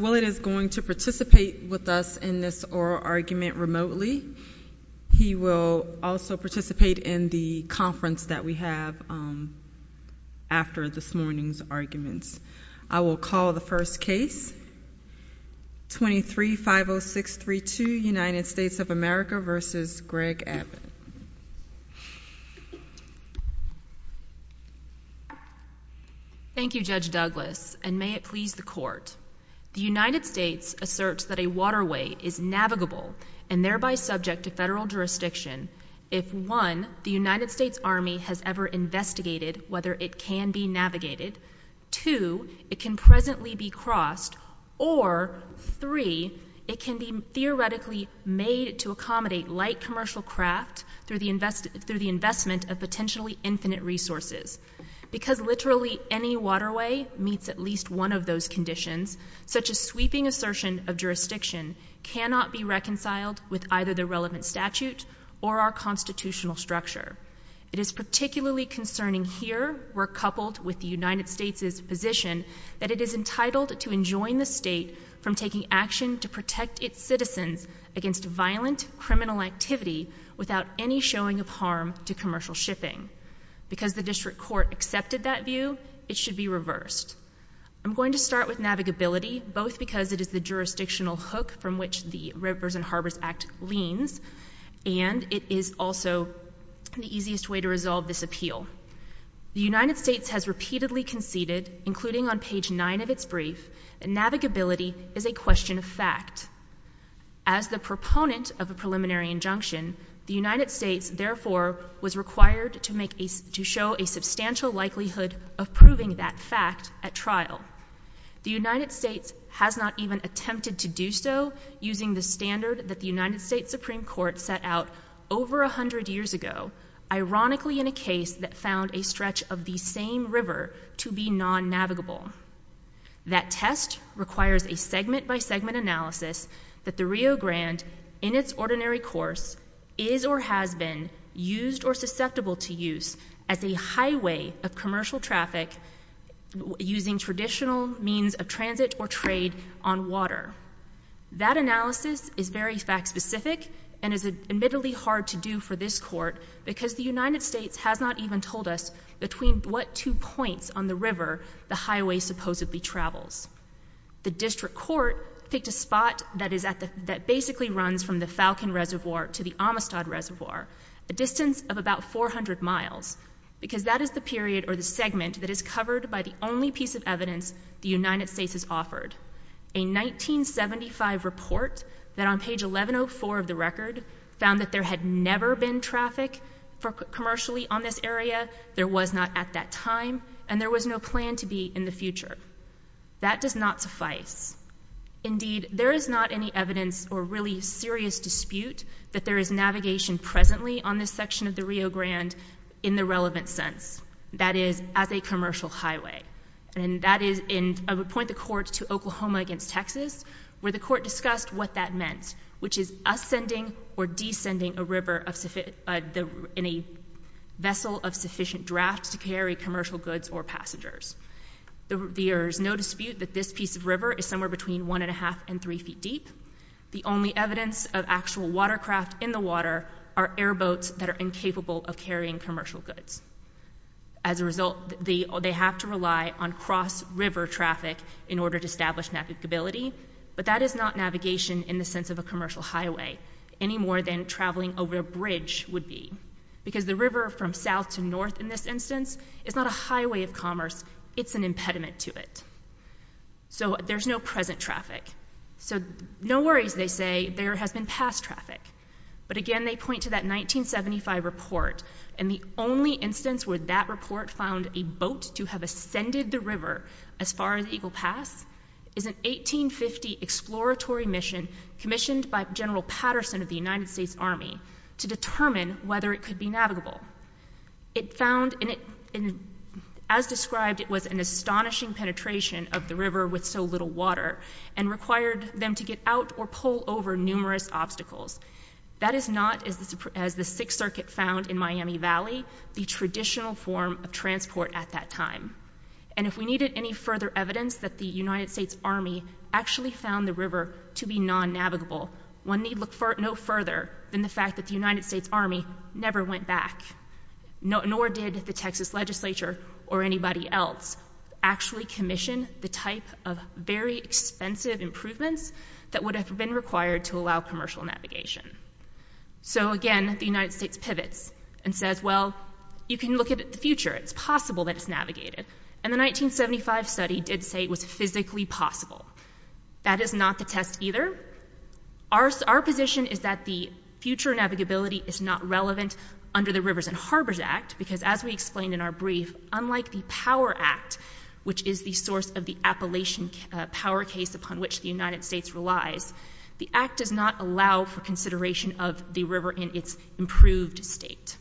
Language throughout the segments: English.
Willett is going to participate with us in this oral argument remotely. He will also participate in the conference that we have after this morning's arguments. I will call the first case, 23-50632, United States of America v. Greg Abbott. Thank you, Judge Douglas, and may it please the Court. The United States asserts that a waterway is navigable and thereby subject to federal jurisdiction if, one, the United States Army has ever investigated whether it can be navigated, two, it can presently be crossed, or, three, it can be theoretically made to accommodate light commercial craft through the investment of potentially infinite resources. Because literally any waterway meets at least one of those conditions, such a sweeping assertion of jurisdiction cannot be reconciled with either the relevant statute or our constitutional structure. It is particularly concerning here, where, coupled with the United States' position, that it is entitled to enjoin the state from taking action to protect its citizens against violent criminal activity without any showing of harm to commercial shipping. Because the district court accepted that view, it should be reversed. I'm going to start with navigability, both because it is the jurisdictional hook from which the Rivers and Harbors Act leans, and it is also the easiest way to resolve this appeal. The United States has repeatedly conceded, including on page 9 of its brief, that navigability is a question of fact. As the proponent of a preliminary injunction, the United States, therefore, was required to make a—to show a substantial likelihood of proving that fact at trial. The United States has not even attempted to do so using the standard that the United States Supreme Court set out over a hundred years ago, ironically in a case that found a stretch of the same river to be non-navigable. That test requires a segment-by-segment analysis that the Rio Grande, in its ordinary course, is or has been used or susceptible to use as a highway of commercial traffic using traditional means of transit or trade on water. That analysis is very fact-specific and is admittedly hard to do for this Court because the United States has not even told us between what two points on the river the highway supposedly travels. The District Court picked a spot that is at the—that basically runs from the Falcon Reservoir to the Amistad Reservoir, a distance of about 400 miles, because that is the period or the segment that is covered by the only piece of evidence the United States has offered. A 1975 report that on page 1104 of the record found that there had never been traffic commercially on this area, there was not at that time, and there was no plan to be in the future. That does not suffice. Indeed, there is not any evidence or really serious dispute that there is navigation presently on this section of the Rio Grande in the relevant sense, that is, as a commercial highway. And that is in—I would point the Court to Oklahoma against Texas, where the Court discussed what that means. There is no dispute that this piece of river is somewhere between 1 1⁄2 and 3 feet deep. The only evidence of actual watercraft in the water are airboats that are incapable of carrying commercial goods. As a result, they have to rely on cross-river traffic in order to establish navigability, but that is not navigation in the sense of a commercial highway, any more than traveling over a bridge would be, because the river from south to north in this instance is not a highway of commerce, it's an impediment to it. So there's no present traffic. So no worries, they say, there has been past traffic. But again, they point to that 1975 report, and the only instance where that report found a boat to have ascended the river as far as Eagle Pass is an 1850 exploratory mission commissioned by General Patterson of the United States Army to determine whether it could be navigable. It found, and as described, it was an astonishing penetration of the river with so little water and required them to get out or pull over numerous obstacles. That is not, as the Sixth Circuit found in the 1980s, and if we needed any further evidence that the United States Army actually found the river to be non-navigable, one need look no further than the fact that the United States Army never went back, nor did the Texas legislature or anybody else actually commission the type of very expensive improvements that would have been required to allow commercial navigation. So again, the United States pivots and says, well, you can look at the future, it's possible that it's navigated. And the 1975 study did say it was physically possible. That is not the test either. Our position is that the future navigability is not relevant under the Rivers and Harbors Act, because as we explained in our brief, unlike the Power Act, which is the source of the Appalachian Power case upon which the United States relies, the Act does not allow for consideration of the river in its improved state.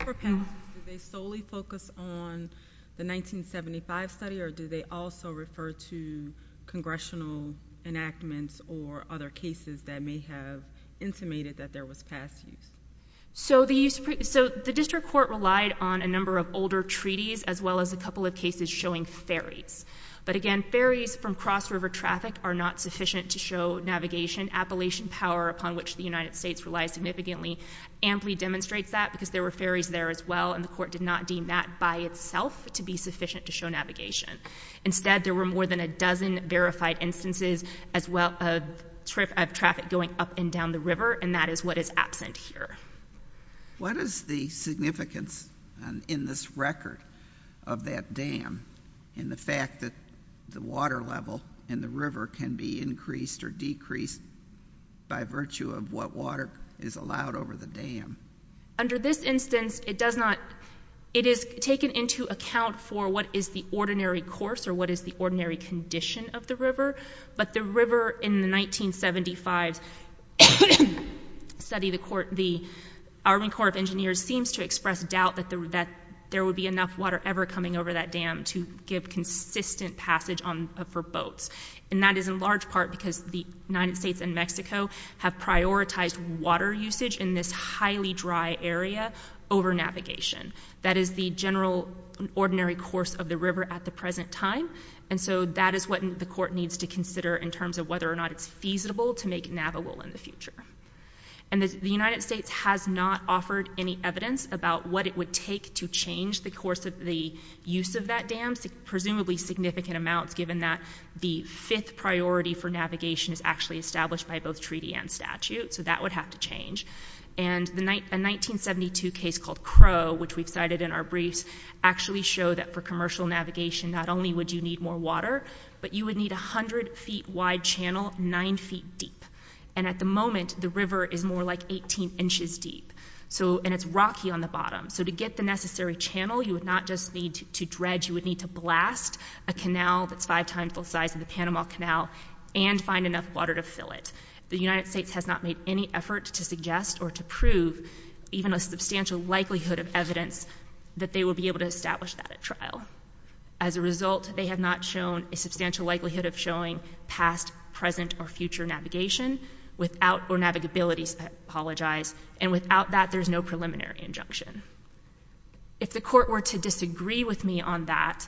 For panelists, do they solely focus on the 1975 study, or do they also refer to congressional enactments or other cases that may have intimated that there was past use? So the District Court relied on a number of older treaties, as well as a couple of cases showing ferries. But again, ferries from cross-river traffic are not sufficient to show navigation. Appalachian Power, upon which the United States relies significantly, amply demonstrates that, because there were ferries there as well, and the Court did not deem that by itself to be sufficient to show navigation. Instead, there were more than a dozen verified instances as well of traffic going up and down the river, and that is what is absent here. What is the significance in this record of that dam in the fact that the water level in the river can be increased or decreased by virtue of what water is allowed over the dam? Under this instance, it is taken into account for what is the ordinary course or what is the ordinary condition of the river, but the river in the 1975 study, the Army Corps of Engineers seems to express doubt that there would be enough water ever coming over that dam to give consistent passage for boats. And that is in large part because the United States has not offered any evidence about what it would take to change the course of the use of that dam, presumably significant amounts, given that the fifth priority for navigation is actually established by both treaty and statute, so that would have to be a significant amount of water. In fact, a 1972 case called Crow, which we have cited in our briefs, actually showed that for commercial navigation, not only would you need more water, but you would need a hundred feet wide channel nine feet deep. And at the moment, the river is more like 18 inches deep, and it is rocky on the bottom. So to get the necessary channel, you would not just need to dredge, you would need to blast a canal that is five times the size of the Panama Canal and find enough water to fill it. The United States has not made any effort to suggest or to prove even a substantial likelihood of evidence that they will be able to establish that at trial. As a result, they have not shown a substantial likelihood of showing past, present, or future navigation without, or navigabilities, I apologize, and without that, there is no preliminary injunction. If the Court were to disagree with me on that,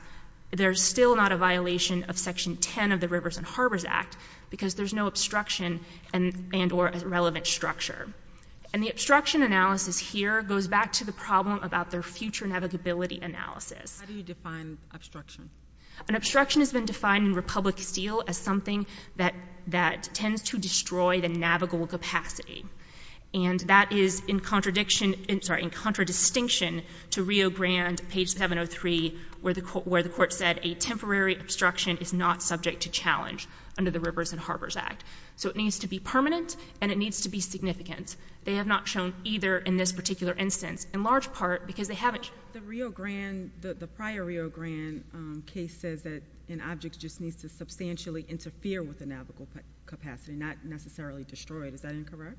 there is still not a violation of Section 10 of the Rivers and Harbors Act, because there is no obstruction and or relevant structure. And the obstruction analysis here goes back to the problem about their future navigability analysis. How do you define obstruction? An obstruction has been defined in Republic Steel as something that tends to destroy the navigable capacity. And that is in contradiction, sorry, in contradistinction to Rio Grande, page 703, where the Court said a temporary obstruction is not subject to challenge under the Rivers and Harbors Act. So it needs to be permanent, and it needs to be significant. They have not shown either in this particular instance, in large part because they haven't The Rio Grande, the prior Rio Grande case says that an object just needs to substantially interfere with the navigable capacity, not necessarily destroy it. Is that incorrect?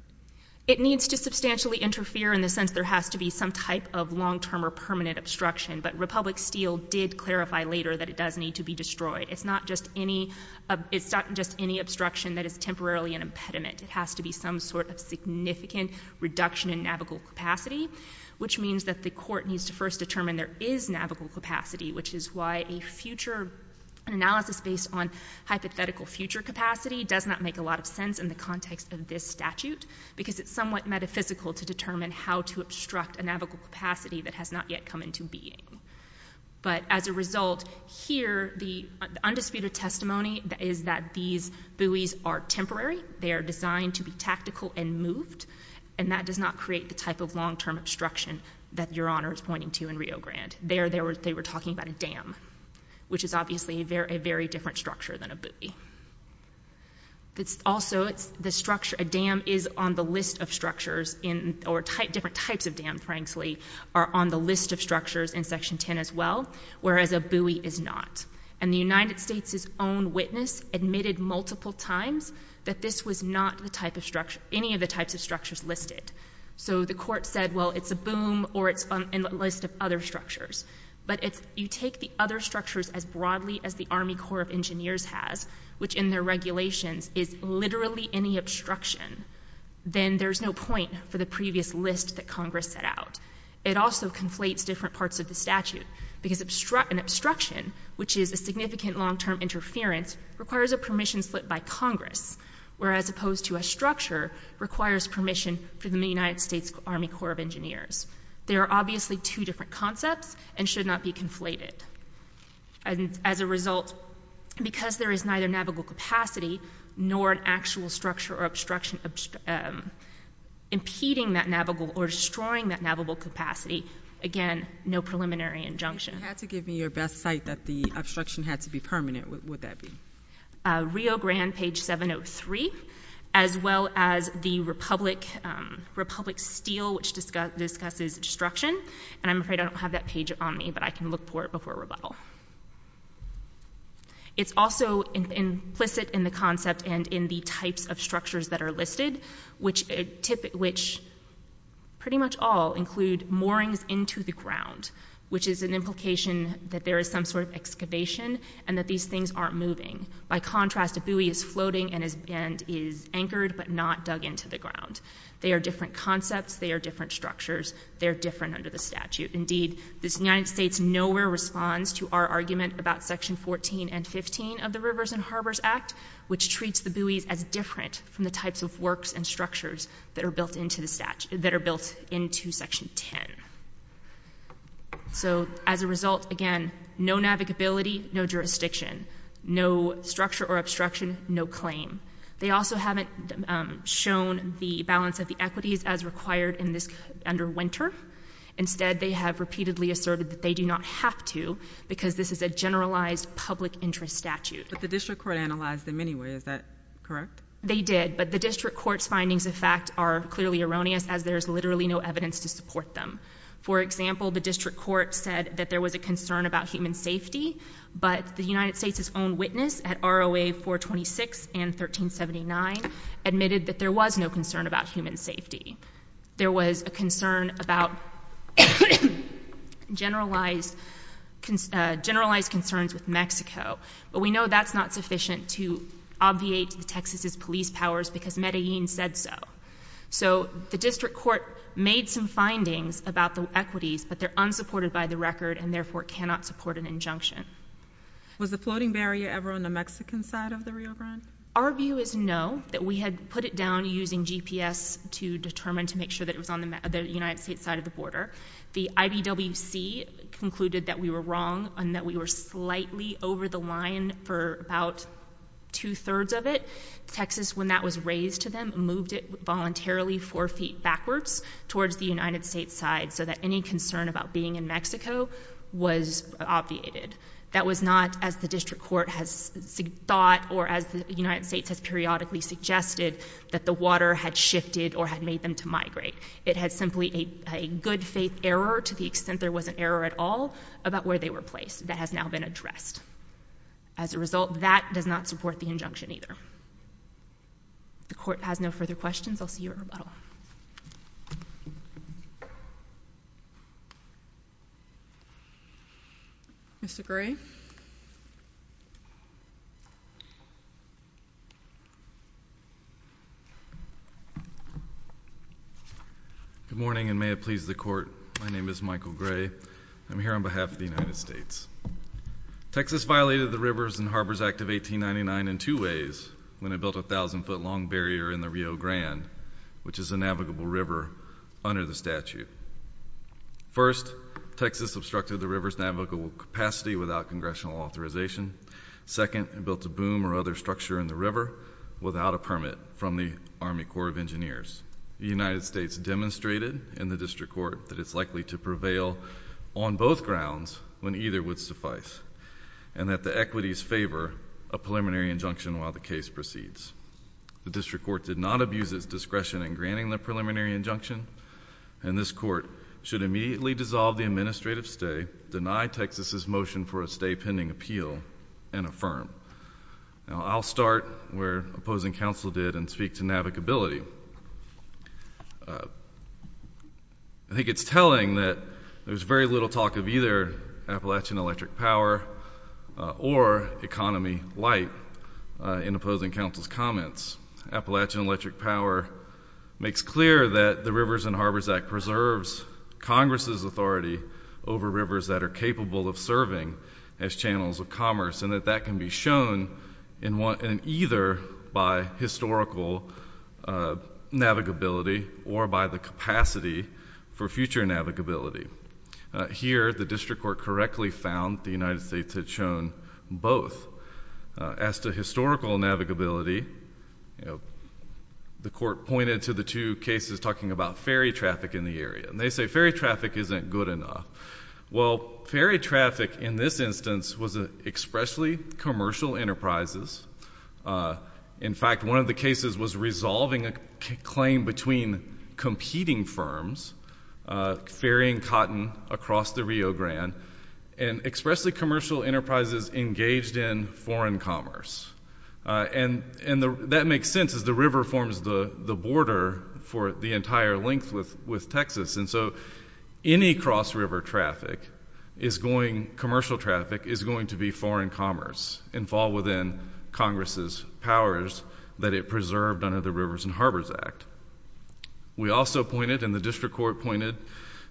It needs to substantially interfere in the sense there has to be some type of long-term or permanent obstruction. But Republic Steel did clarify later that it does need to be destroyed. It's not just any obstruction that is temporarily an impediment. It has to be some sort of significant reduction in navigable capacity, which means that the Court needs to first determine there is navigable capacity, which is why a future analysis based on hypothetical future capacity does not make a lot of sense in the context of this statute, because it's not yet come into being. But as a result, here, the undisputed testimony is that these buoys are temporary. They are designed to be tactical and moved, and that does not create the type of long-term obstruction that Your Honor is pointing to in Rio Grande. There they were talking about a dam, which is obviously a very different structure than a buoy. Also a dam is on the list of structures, or different types of dams, frankly, are on the list of structures in Section 10 as well, whereas a buoy is not. And the United States' own witness admitted multiple times that this was not any of the types of structures listed. So the Court said, well, it's a boom, or it's a list of other structures. But if you take the other structures as broadly as the Army Corps of Engineers has, which in their regulations is literally any obstruction, then there's no point for the previous list that Congress set out. It also conflates different parts of the statute, because an obstruction, which is a significant long-term interference, requires a permission split by Congress, whereas opposed to a structure requires permission from the United States Army Corps of Engineers. There are obviously two different concepts, and should not be conflated. And as a result, because there is neither navigable capacity, nor an actual structure or obstruction impeding that navigable, or destroying that navigable capacity, again, no preliminary injunction. If you had to give me your best site that the obstruction had to be permanent, what would that be? Rio Grande, page 703, as well as the Republic Steel, which discusses destruction. And I'm afraid I don't have that page on me, but I can look for it before rebuttal. It's also implicit in the concept and in the types of Pretty much all include moorings into the ground, which is an implication that there is some sort of excavation, and that these things aren't moving. By contrast, a buoy is floating and is anchored, but not dug into the ground. They are different concepts. They are different structures. They are different under the statute. Indeed, the United States nowhere responds to our argument about section 14 and 15 of the Rivers and Harbors Act, which treats the buoys as different from the types of works and structures that are built into the statute, that are built into section 10. So as a result, again, no navigability, no jurisdiction, no structure or obstruction, no claim. They also haven't shown the balance of the equities as required in this under winter. Instead, they have repeatedly asserted that they do not have to, because this is a generalized public interest statute. But the district court analyzed them anyway. Is that correct? They did, but the district court's findings of fact are clearly erroneous, as there is literally no evidence to support them. For example, the district court said that there was a concern about human safety, but the United States' own witness at ROA 426 and 1379 admitted that there was no concern about human safety. There was a concern about generalized concerns with Mexico, but we know that's not sufficient to obviate Texas' police powers because Medellin said so. So the district court made some findings about the equities, but they're unsupported by the record and therefore cannot support an injunction. Was the floating barrier ever on the Mexican side of the Rio Grande? Our view is no, that we had put it down using GPS to determine, to make sure that it was on the United States' side of the border. The IBWC concluded that we were wrong and that we were slightly over the line for about two-thirds of it. Texas, when that was raised to them, moved it voluntarily four feet backwards towards the United States' side so that any concern about being in Mexico was obviated. That was not, as the district court has thought or as the United States has periodically suggested, that the water had shifted or had made them to migrate. It had simply a good-faith error, to the extent there was an error at all, about where they were placed. That has now been addressed. As a result, that does not support the injunction either. If the court has no further questions, I'll see you at rebuttal. Mr. Gray? Good morning, and may it please the court. My name is Michael Gray. I'm here on behalf of the United States. Texas violated the Rivers and Harbors Act of 1899 in two ways when it was a navigable river under the statute. First, Texas obstructed the river's navigable capacity without congressional authorization. Second, it built a boom or other structure in the river without a permit from the Army Corps of Engineers. The United States demonstrated in the district court that it's likely to prevail on both grounds when either would suffice and that the equities favor a preliminary injunction while the case proceeds. The district court did not abuse its discretion in granting the preliminary injunction, and this court should immediately dissolve the administrative stay, deny Texas' motion for a stay pending appeal, and affirm. I'll start where opposing counsel did and speak to navigability. I think it's telling that there's very little talk of either Appalachian electric power or economy light in opposing counsel's comments. Appalachian electric power makes clear that the Rivers and Harbors Act preserves Congress' authority over rivers that are capable of serving as channels of commerce and that that can be shown in either by historical navigability or by the capacity for future navigability. Here, the district court correctly found the As to historical navigability, the court pointed to the two cases talking about ferry traffic in the area, and they say ferry traffic isn't good enough. Well, ferry traffic in this instance was expressly commercial enterprises. In fact, one of the cases was resolving a claim between competing firms, ferrying cotton across the Rio Grande, and expressly commercial enterprises engaged in foreign commerce. That makes sense as the river forms the border for the entire length with Texas, and so any cross-river traffic, commercial traffic, is going to be foreign commerce and fall within Congress' powers that it preserved under the Rivers and Harbors Act. We also pointed, and the district court pointed,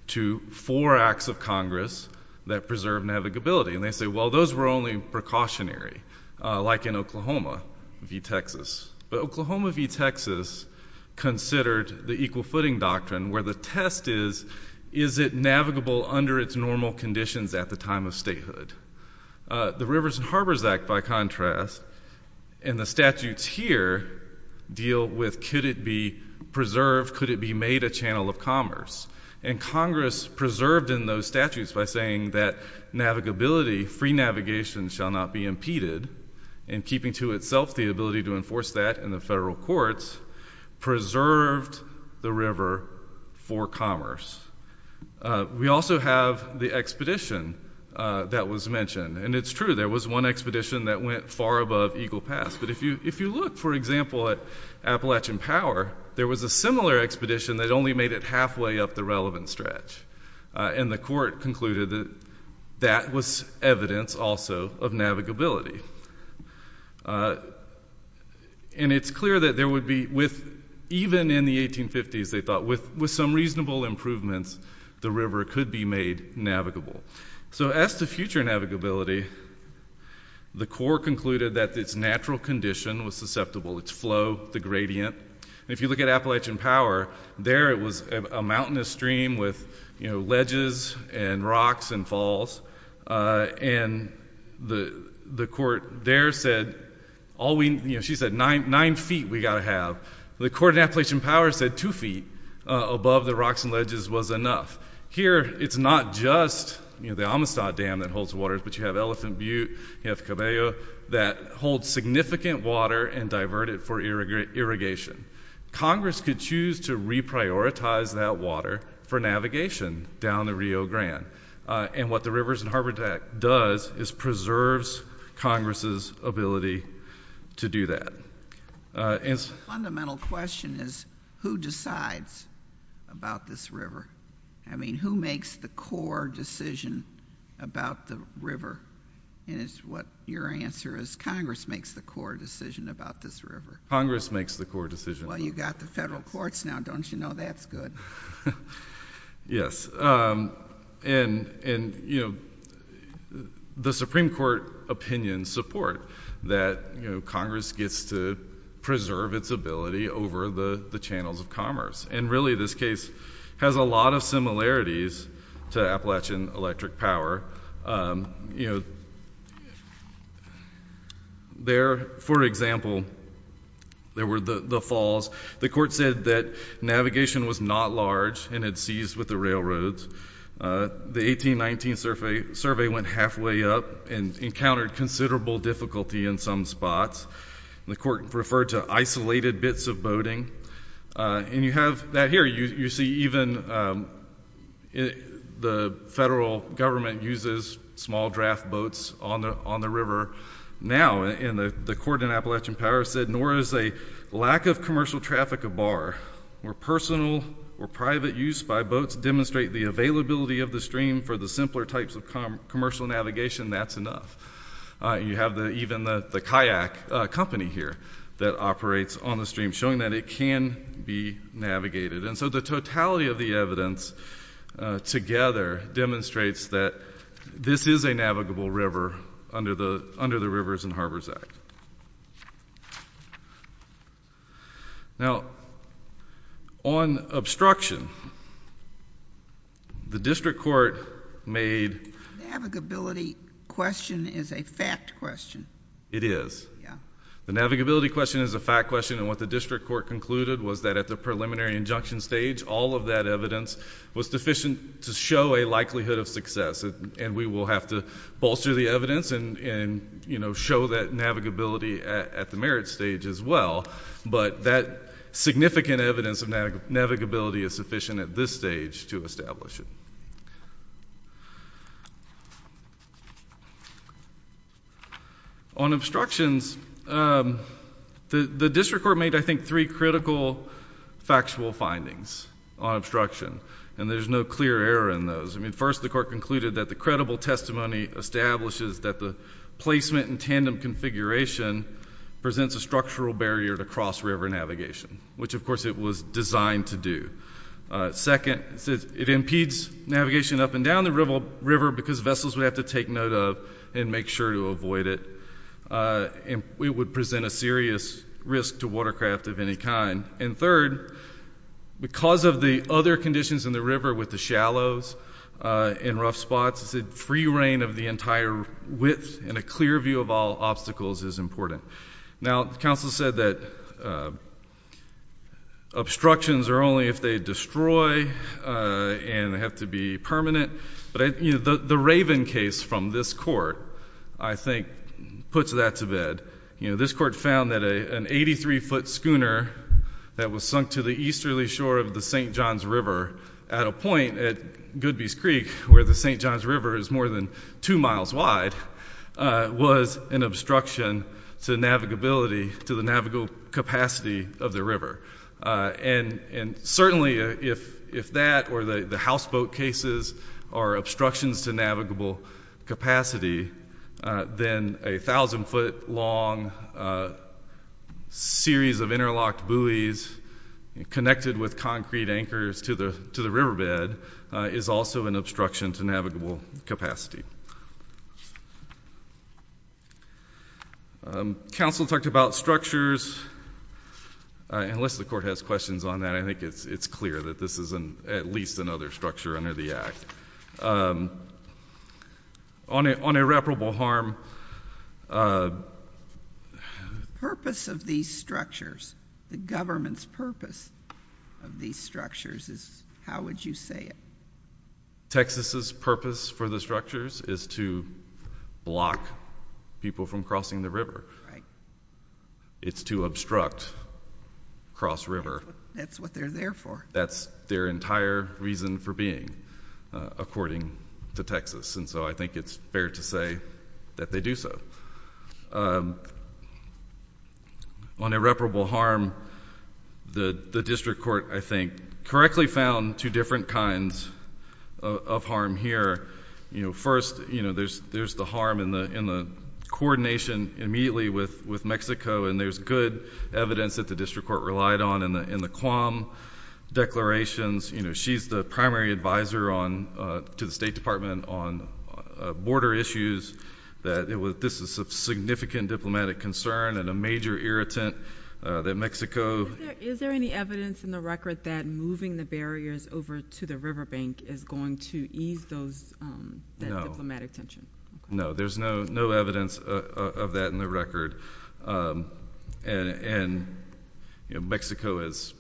to four acts of Congress that preserve navigability, and they say, well, those were only precautionary, like in Oklahoma v. Texas. But Oklahoma v. Texas considered the equal footing doctrine where the test is, is it navigable under its normal conditions at the time of statehood? The Rivers and Harbors Act, by contrast, and the statutes here deal with could it be preserved, could it be made a channel of commerce, and Congress preserved in those statutes by saying that navigability, free navigation, shall not be impeded, and keeping to itself the ability to enforce that in the federal courts, preserved the river for commerce. We also have the expedition that was mentioned, and it's true, there was one expedition that went far above Eagle Pass, but if you look, for example, at Appalachian Power, there was a similar expedition that only made it halfway up the relevant stretch, and the court concluded that that was evidence also of navigability. And it's clear that there would be, even in the 1850s, they thought, with some reasonable improvements, the river could be made navigable. So as to future navigability, the court concluded that its natural condition was susceptible, its flow, the gradient. If you look at Appalachian Power, there it was a mountainous stream with ledges and rocks and falls, and the court there said, she said, nine feet we gotta have. The court in Appalachian Power said two feet above the rocks and ledges was enough. Here, it's not just the Amistad Dam that holds water, but you have Elephant Butte, you have Cabello, that hold significant water and divert it for irrigation. Congress could choose to reprioritize that water for navigation down the Rio Grande, and what the Rivers and Harbors Act does is preserves Congress's ability to do that. The fundamental question is, who decides about this river? I mean, who makes the core decision about the river? And it's what your answer is, Congress makes the core decision about this river. Congress makes the core decision. Well, you got the federal courts now, don't you? No, that's good. Yes. And, you know, the Supreme Court opinion support that, you know, Congress gets to preserve its ability over the channels of commerce. And really, this case has a lot of similarities to Appalachian Electric Power. You know, there, for example, there were the falls. The court said that navigation was not large and it seized with the railroads. The 1819 survey went halfway up and encountered considerable difficulty in some spots. The court referred to isolated bits of boating. And you have that here. You see even the federal government uses small draft boats on the river now. And the court in Appalachian Power said, nor is a lack of commercial traffic of bar or personal or private use by boats demonstrate the availability of the stream for the simpler types of commercial navigation, that's enough. You have even the kayak company here that operates on the stream, showing that it can be navigated. And so the totality of the evidence together demonstrates that this is a navigable river under the Rivers and Harbors Act. Now, on obstruction, the district court made... The navigability question is a fact question. It is. The navigability question is a fact question. And what the district court concluded was that at the preliminary injunction stage, all of that evidence was deficient to show a likelihood of success. And we will have to bolster the evidence and, you know, show that navigability at the merit stage as well. But that significant evidence of navigability is sufficient at this stage to establish it. On obstructions, the district court made, I think, three critical factual findings on those. I mean, first, the court concluded that the credible testimony establishes that the placement and tandem configuration presents a structural barrier to cross-river navigation, which of course it was designed to do. Second, it impedes navigation up and down the river because vessels would have to take note of and make sure to avoid it. It would present a serious risk to watercraft of any kind. And third, because of the other conditions in the river with the shallows and rough spots, it said free reign of the entire width and a clear view of all obstacles is important. Now, the council said that obstructions are only if they destroy and have to be permanent. But the Raven case from this court, I think, puts that to bed. You know, this court found that an 83-foot schooner that was sunk to the easterly shore of the St. Johns River at a point at Goodby's Creek, where the St. Johns River is more than two miles wide, was an obstruction to navigability, to the navigable capacity of the river. And certainly, if that or the houseboat cases are obstructions to connected with concrete anchors to the riverbed, is also an obstruction to navigable capacity. Council talked about structures. Unless the court has questions on that, I think it's clear that this is at least another structure under the Act. On irreparable harm, the purpose of these structures, the government's purpose of these structures is, how would you say it? Texas' purpose for the structures is to block people from crossing the river. It's to obstruct cross river. That's what they're there for. That's their entire reason for being, according to Texas. So I think it's fair to say that they do so. On irreparable harm, the district court, I think, correctly found two different kinds of harm here. First, there's the harm in the coordination immediately with Mexico, and there's good evidence that the district court relied on in the QAM declarations. She's the primary advisor to the State Department on border issues, that this is of significant diplomatic concern and a major irritant that Mexico... Is there any evidence in the record that moving the barriers over to the riverbank is going to ease that diplomatic tension? No. There's no evidence of that in the record. Mexico has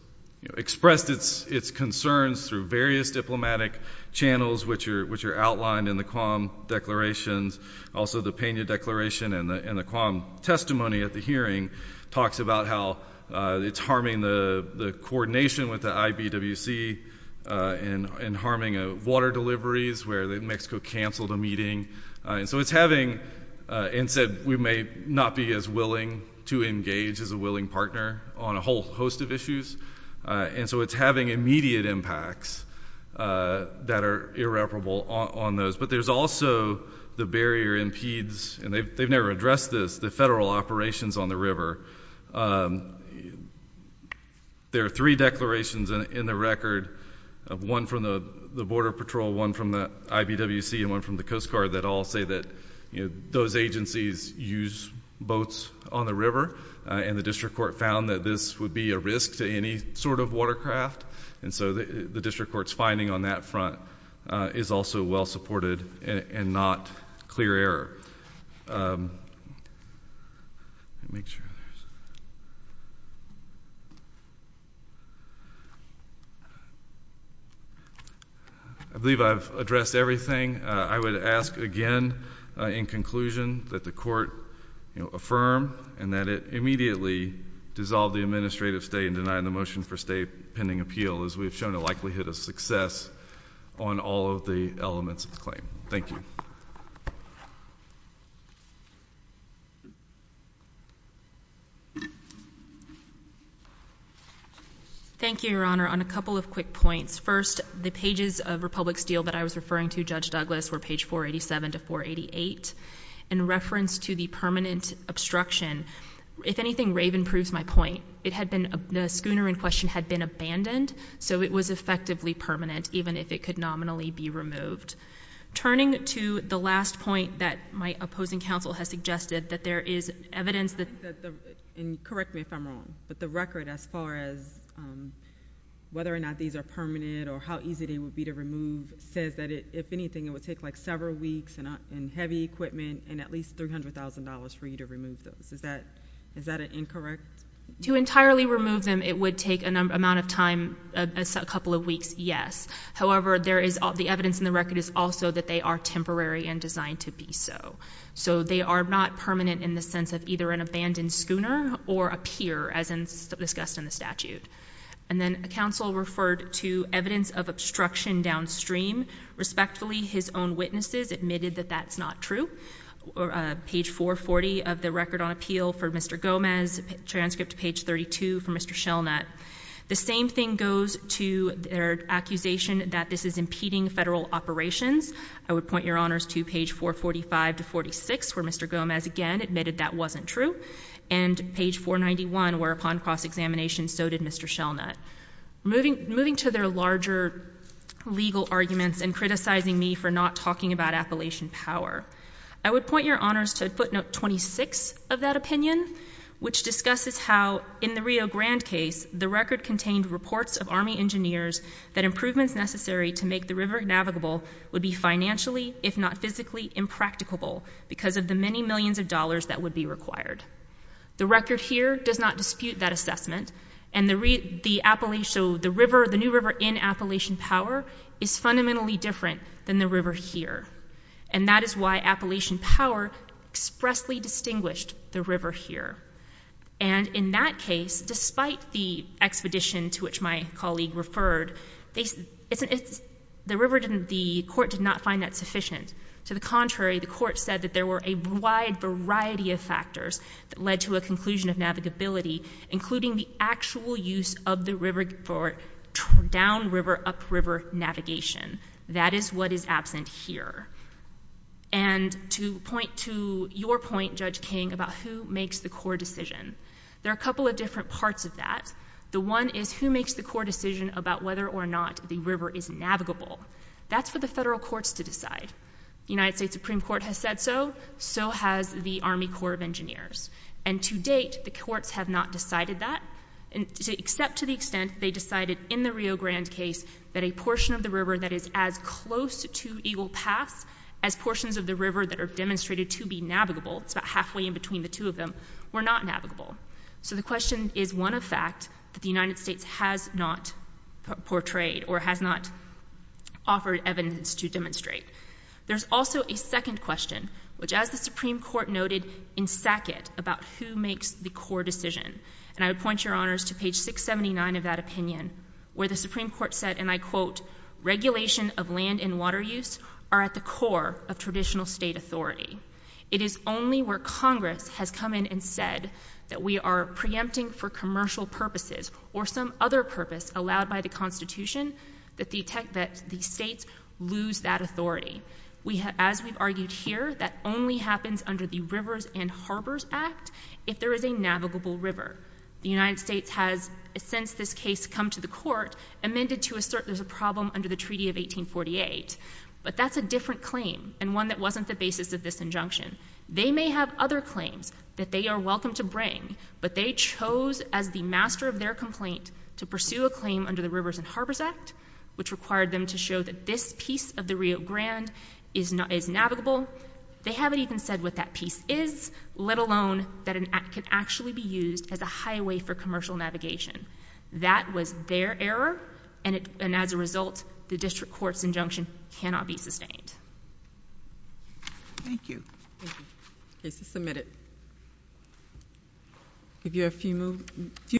expressed its concerns through various diplomatic channels, which are outlined in the QAM declarations, also the Pena Declaration and the QAM testimony at the hearing talks about how it's harming the coordination with the IBWC and harming water deliveries, where Mexico canceled a meeting. So it's having... We may not be as willing to engage as a willing partner on a whole host of issues, and so it's having immediate impacts that are irreparable on those. But there's also the barrier impedes... They've never addressed this, the federal operations on the river. There are three declarations in the record, one from the Border Patrol, one from the IBWC, and one from the Coast Guard that all say that those agencies use boats on the river, and the district court found that this would be a risk to any sort of watercraft, and so the district court's reporting on that front is also well supported and not clear error. I believe I've addressed everything. I would ask again, in conclusion, that the court affirm and that it immediately dissolve the administrative state and deny the motion for state pending appeal, as we've shown a likelihood of success on all of the elements of the claim. Thank you. Thank you, Your Honor. On a couple of quick points. First, the pages of Republic's deal that I was referring to, Judge Douglas, were page 487 to 488. In reference to the permanent obstruction, if anything, Raven proves my point. It had been... The schooner in question had been abandoned, so it was effectively permanent, even if it could nominally be removed. Turning to the last point that my opposing counsel has suggested, that there is evidence that... Correct me if I'm wrong, but the record, as far as whether or not these are permanent or how easy they would be to remove, says that, if anything, it would take, like, several weeks and heavy equipment and at least $300,000 for you to remove those. Is that an incorrect... To entirely remove them, it would take an amount of time, a couple of weeks, yes. However, there is... The evidence in the record is also that they are temporary and designed to be so. So, they are not permanent in the sense of either an abandoned schooner or appear, as discussed in the statute. And then, counsel referred to evidence of obstruction downstream. Respectfully, his own witnesses admitted that that's not true. Page 440 of the record on Mr. Gomez, transcript to page 32 for Mr. Shelnut. The same thing goes to their accusation that this is impeding federal operations. I would point your honors to page 445 to 46, where Mr. Gomez, again, admitted that wasn't true. And page 491, where, upon cross-examination, so did Mr. Shelnut. Moving to their larger legal arguments and criticizing me for not talking about Appalachian Power. I would point your honors to footnote 26 of that opinion, which discusses how, in the Rio Grande case, the record contained reports of Army engineers that improvements necessary to make the river navigable would be financially, if not physically, impracticable because of the many millions of dollars that would be required. The record here does not dispute that assessment. And the new river in Appalachian Power is fundamentally different than the river here. And that is why Appalachian Power expressly distinguished the river here. And in that case, despite the expedition to which my colleague referred, the river didn't, the court did not find that sufficient. To the contrary, the court said that there were a wide variety of factors that led to a conclusion of navigability, including the actual use of the river for down-river, up-river navigation. That is what is absent here. And to point to your point, Judge King, about who makes the core decision, there are a couple of different parts of that. The one is who makes the core decision about whether or not the river is navigable. That's for the federal courts to decide. The United States Supreme Court has said so. So has the Army Corps of Engineers. And to date, the court has not decided that, except to the extent they decided in the Rio Grande case that a portion of the river that is as close to Eagle Pass as portions of the river that are demonstrated to be navigable, it's about halfway in between the two of them, were not navigable. So the question is one effect that the United States has not portrayed or has not offered evidence to demonstrate. There's also a second question, which as the Supreme Court has said, is the question of who makes the core decision. And I would point your honors to page 679 of that opinion, where the Supreme Court said, and I quote, regulation of land and water use are at the core of traditional state authority. It is only where Congress has come in and said that we are preempting for commercial purposes or some other purpose allowed by the Constitution that the states lose that authority. As we've argued here, that only happens under the Rivers and Harbors Act if there is a navigable river. The United States has, since this case come to the court, amended to assert there's a problem under the Treaty of 1848. But that's a different claim and one that wasn't the basis of this injunction. They may have other claims that they are welcome to bring, but they chose as the master of their complaint to pursue a claim under the Rivers and Harbors Act, which required them to show that this piece of the Rio Grande is navigable. They haven't even said what that piece is, let alone that it could actually be used as a highway for commercial navigation. That was their error, and as a result, the district court's injunction cannot be sustained. Thank you. Thank you. Case is submitted.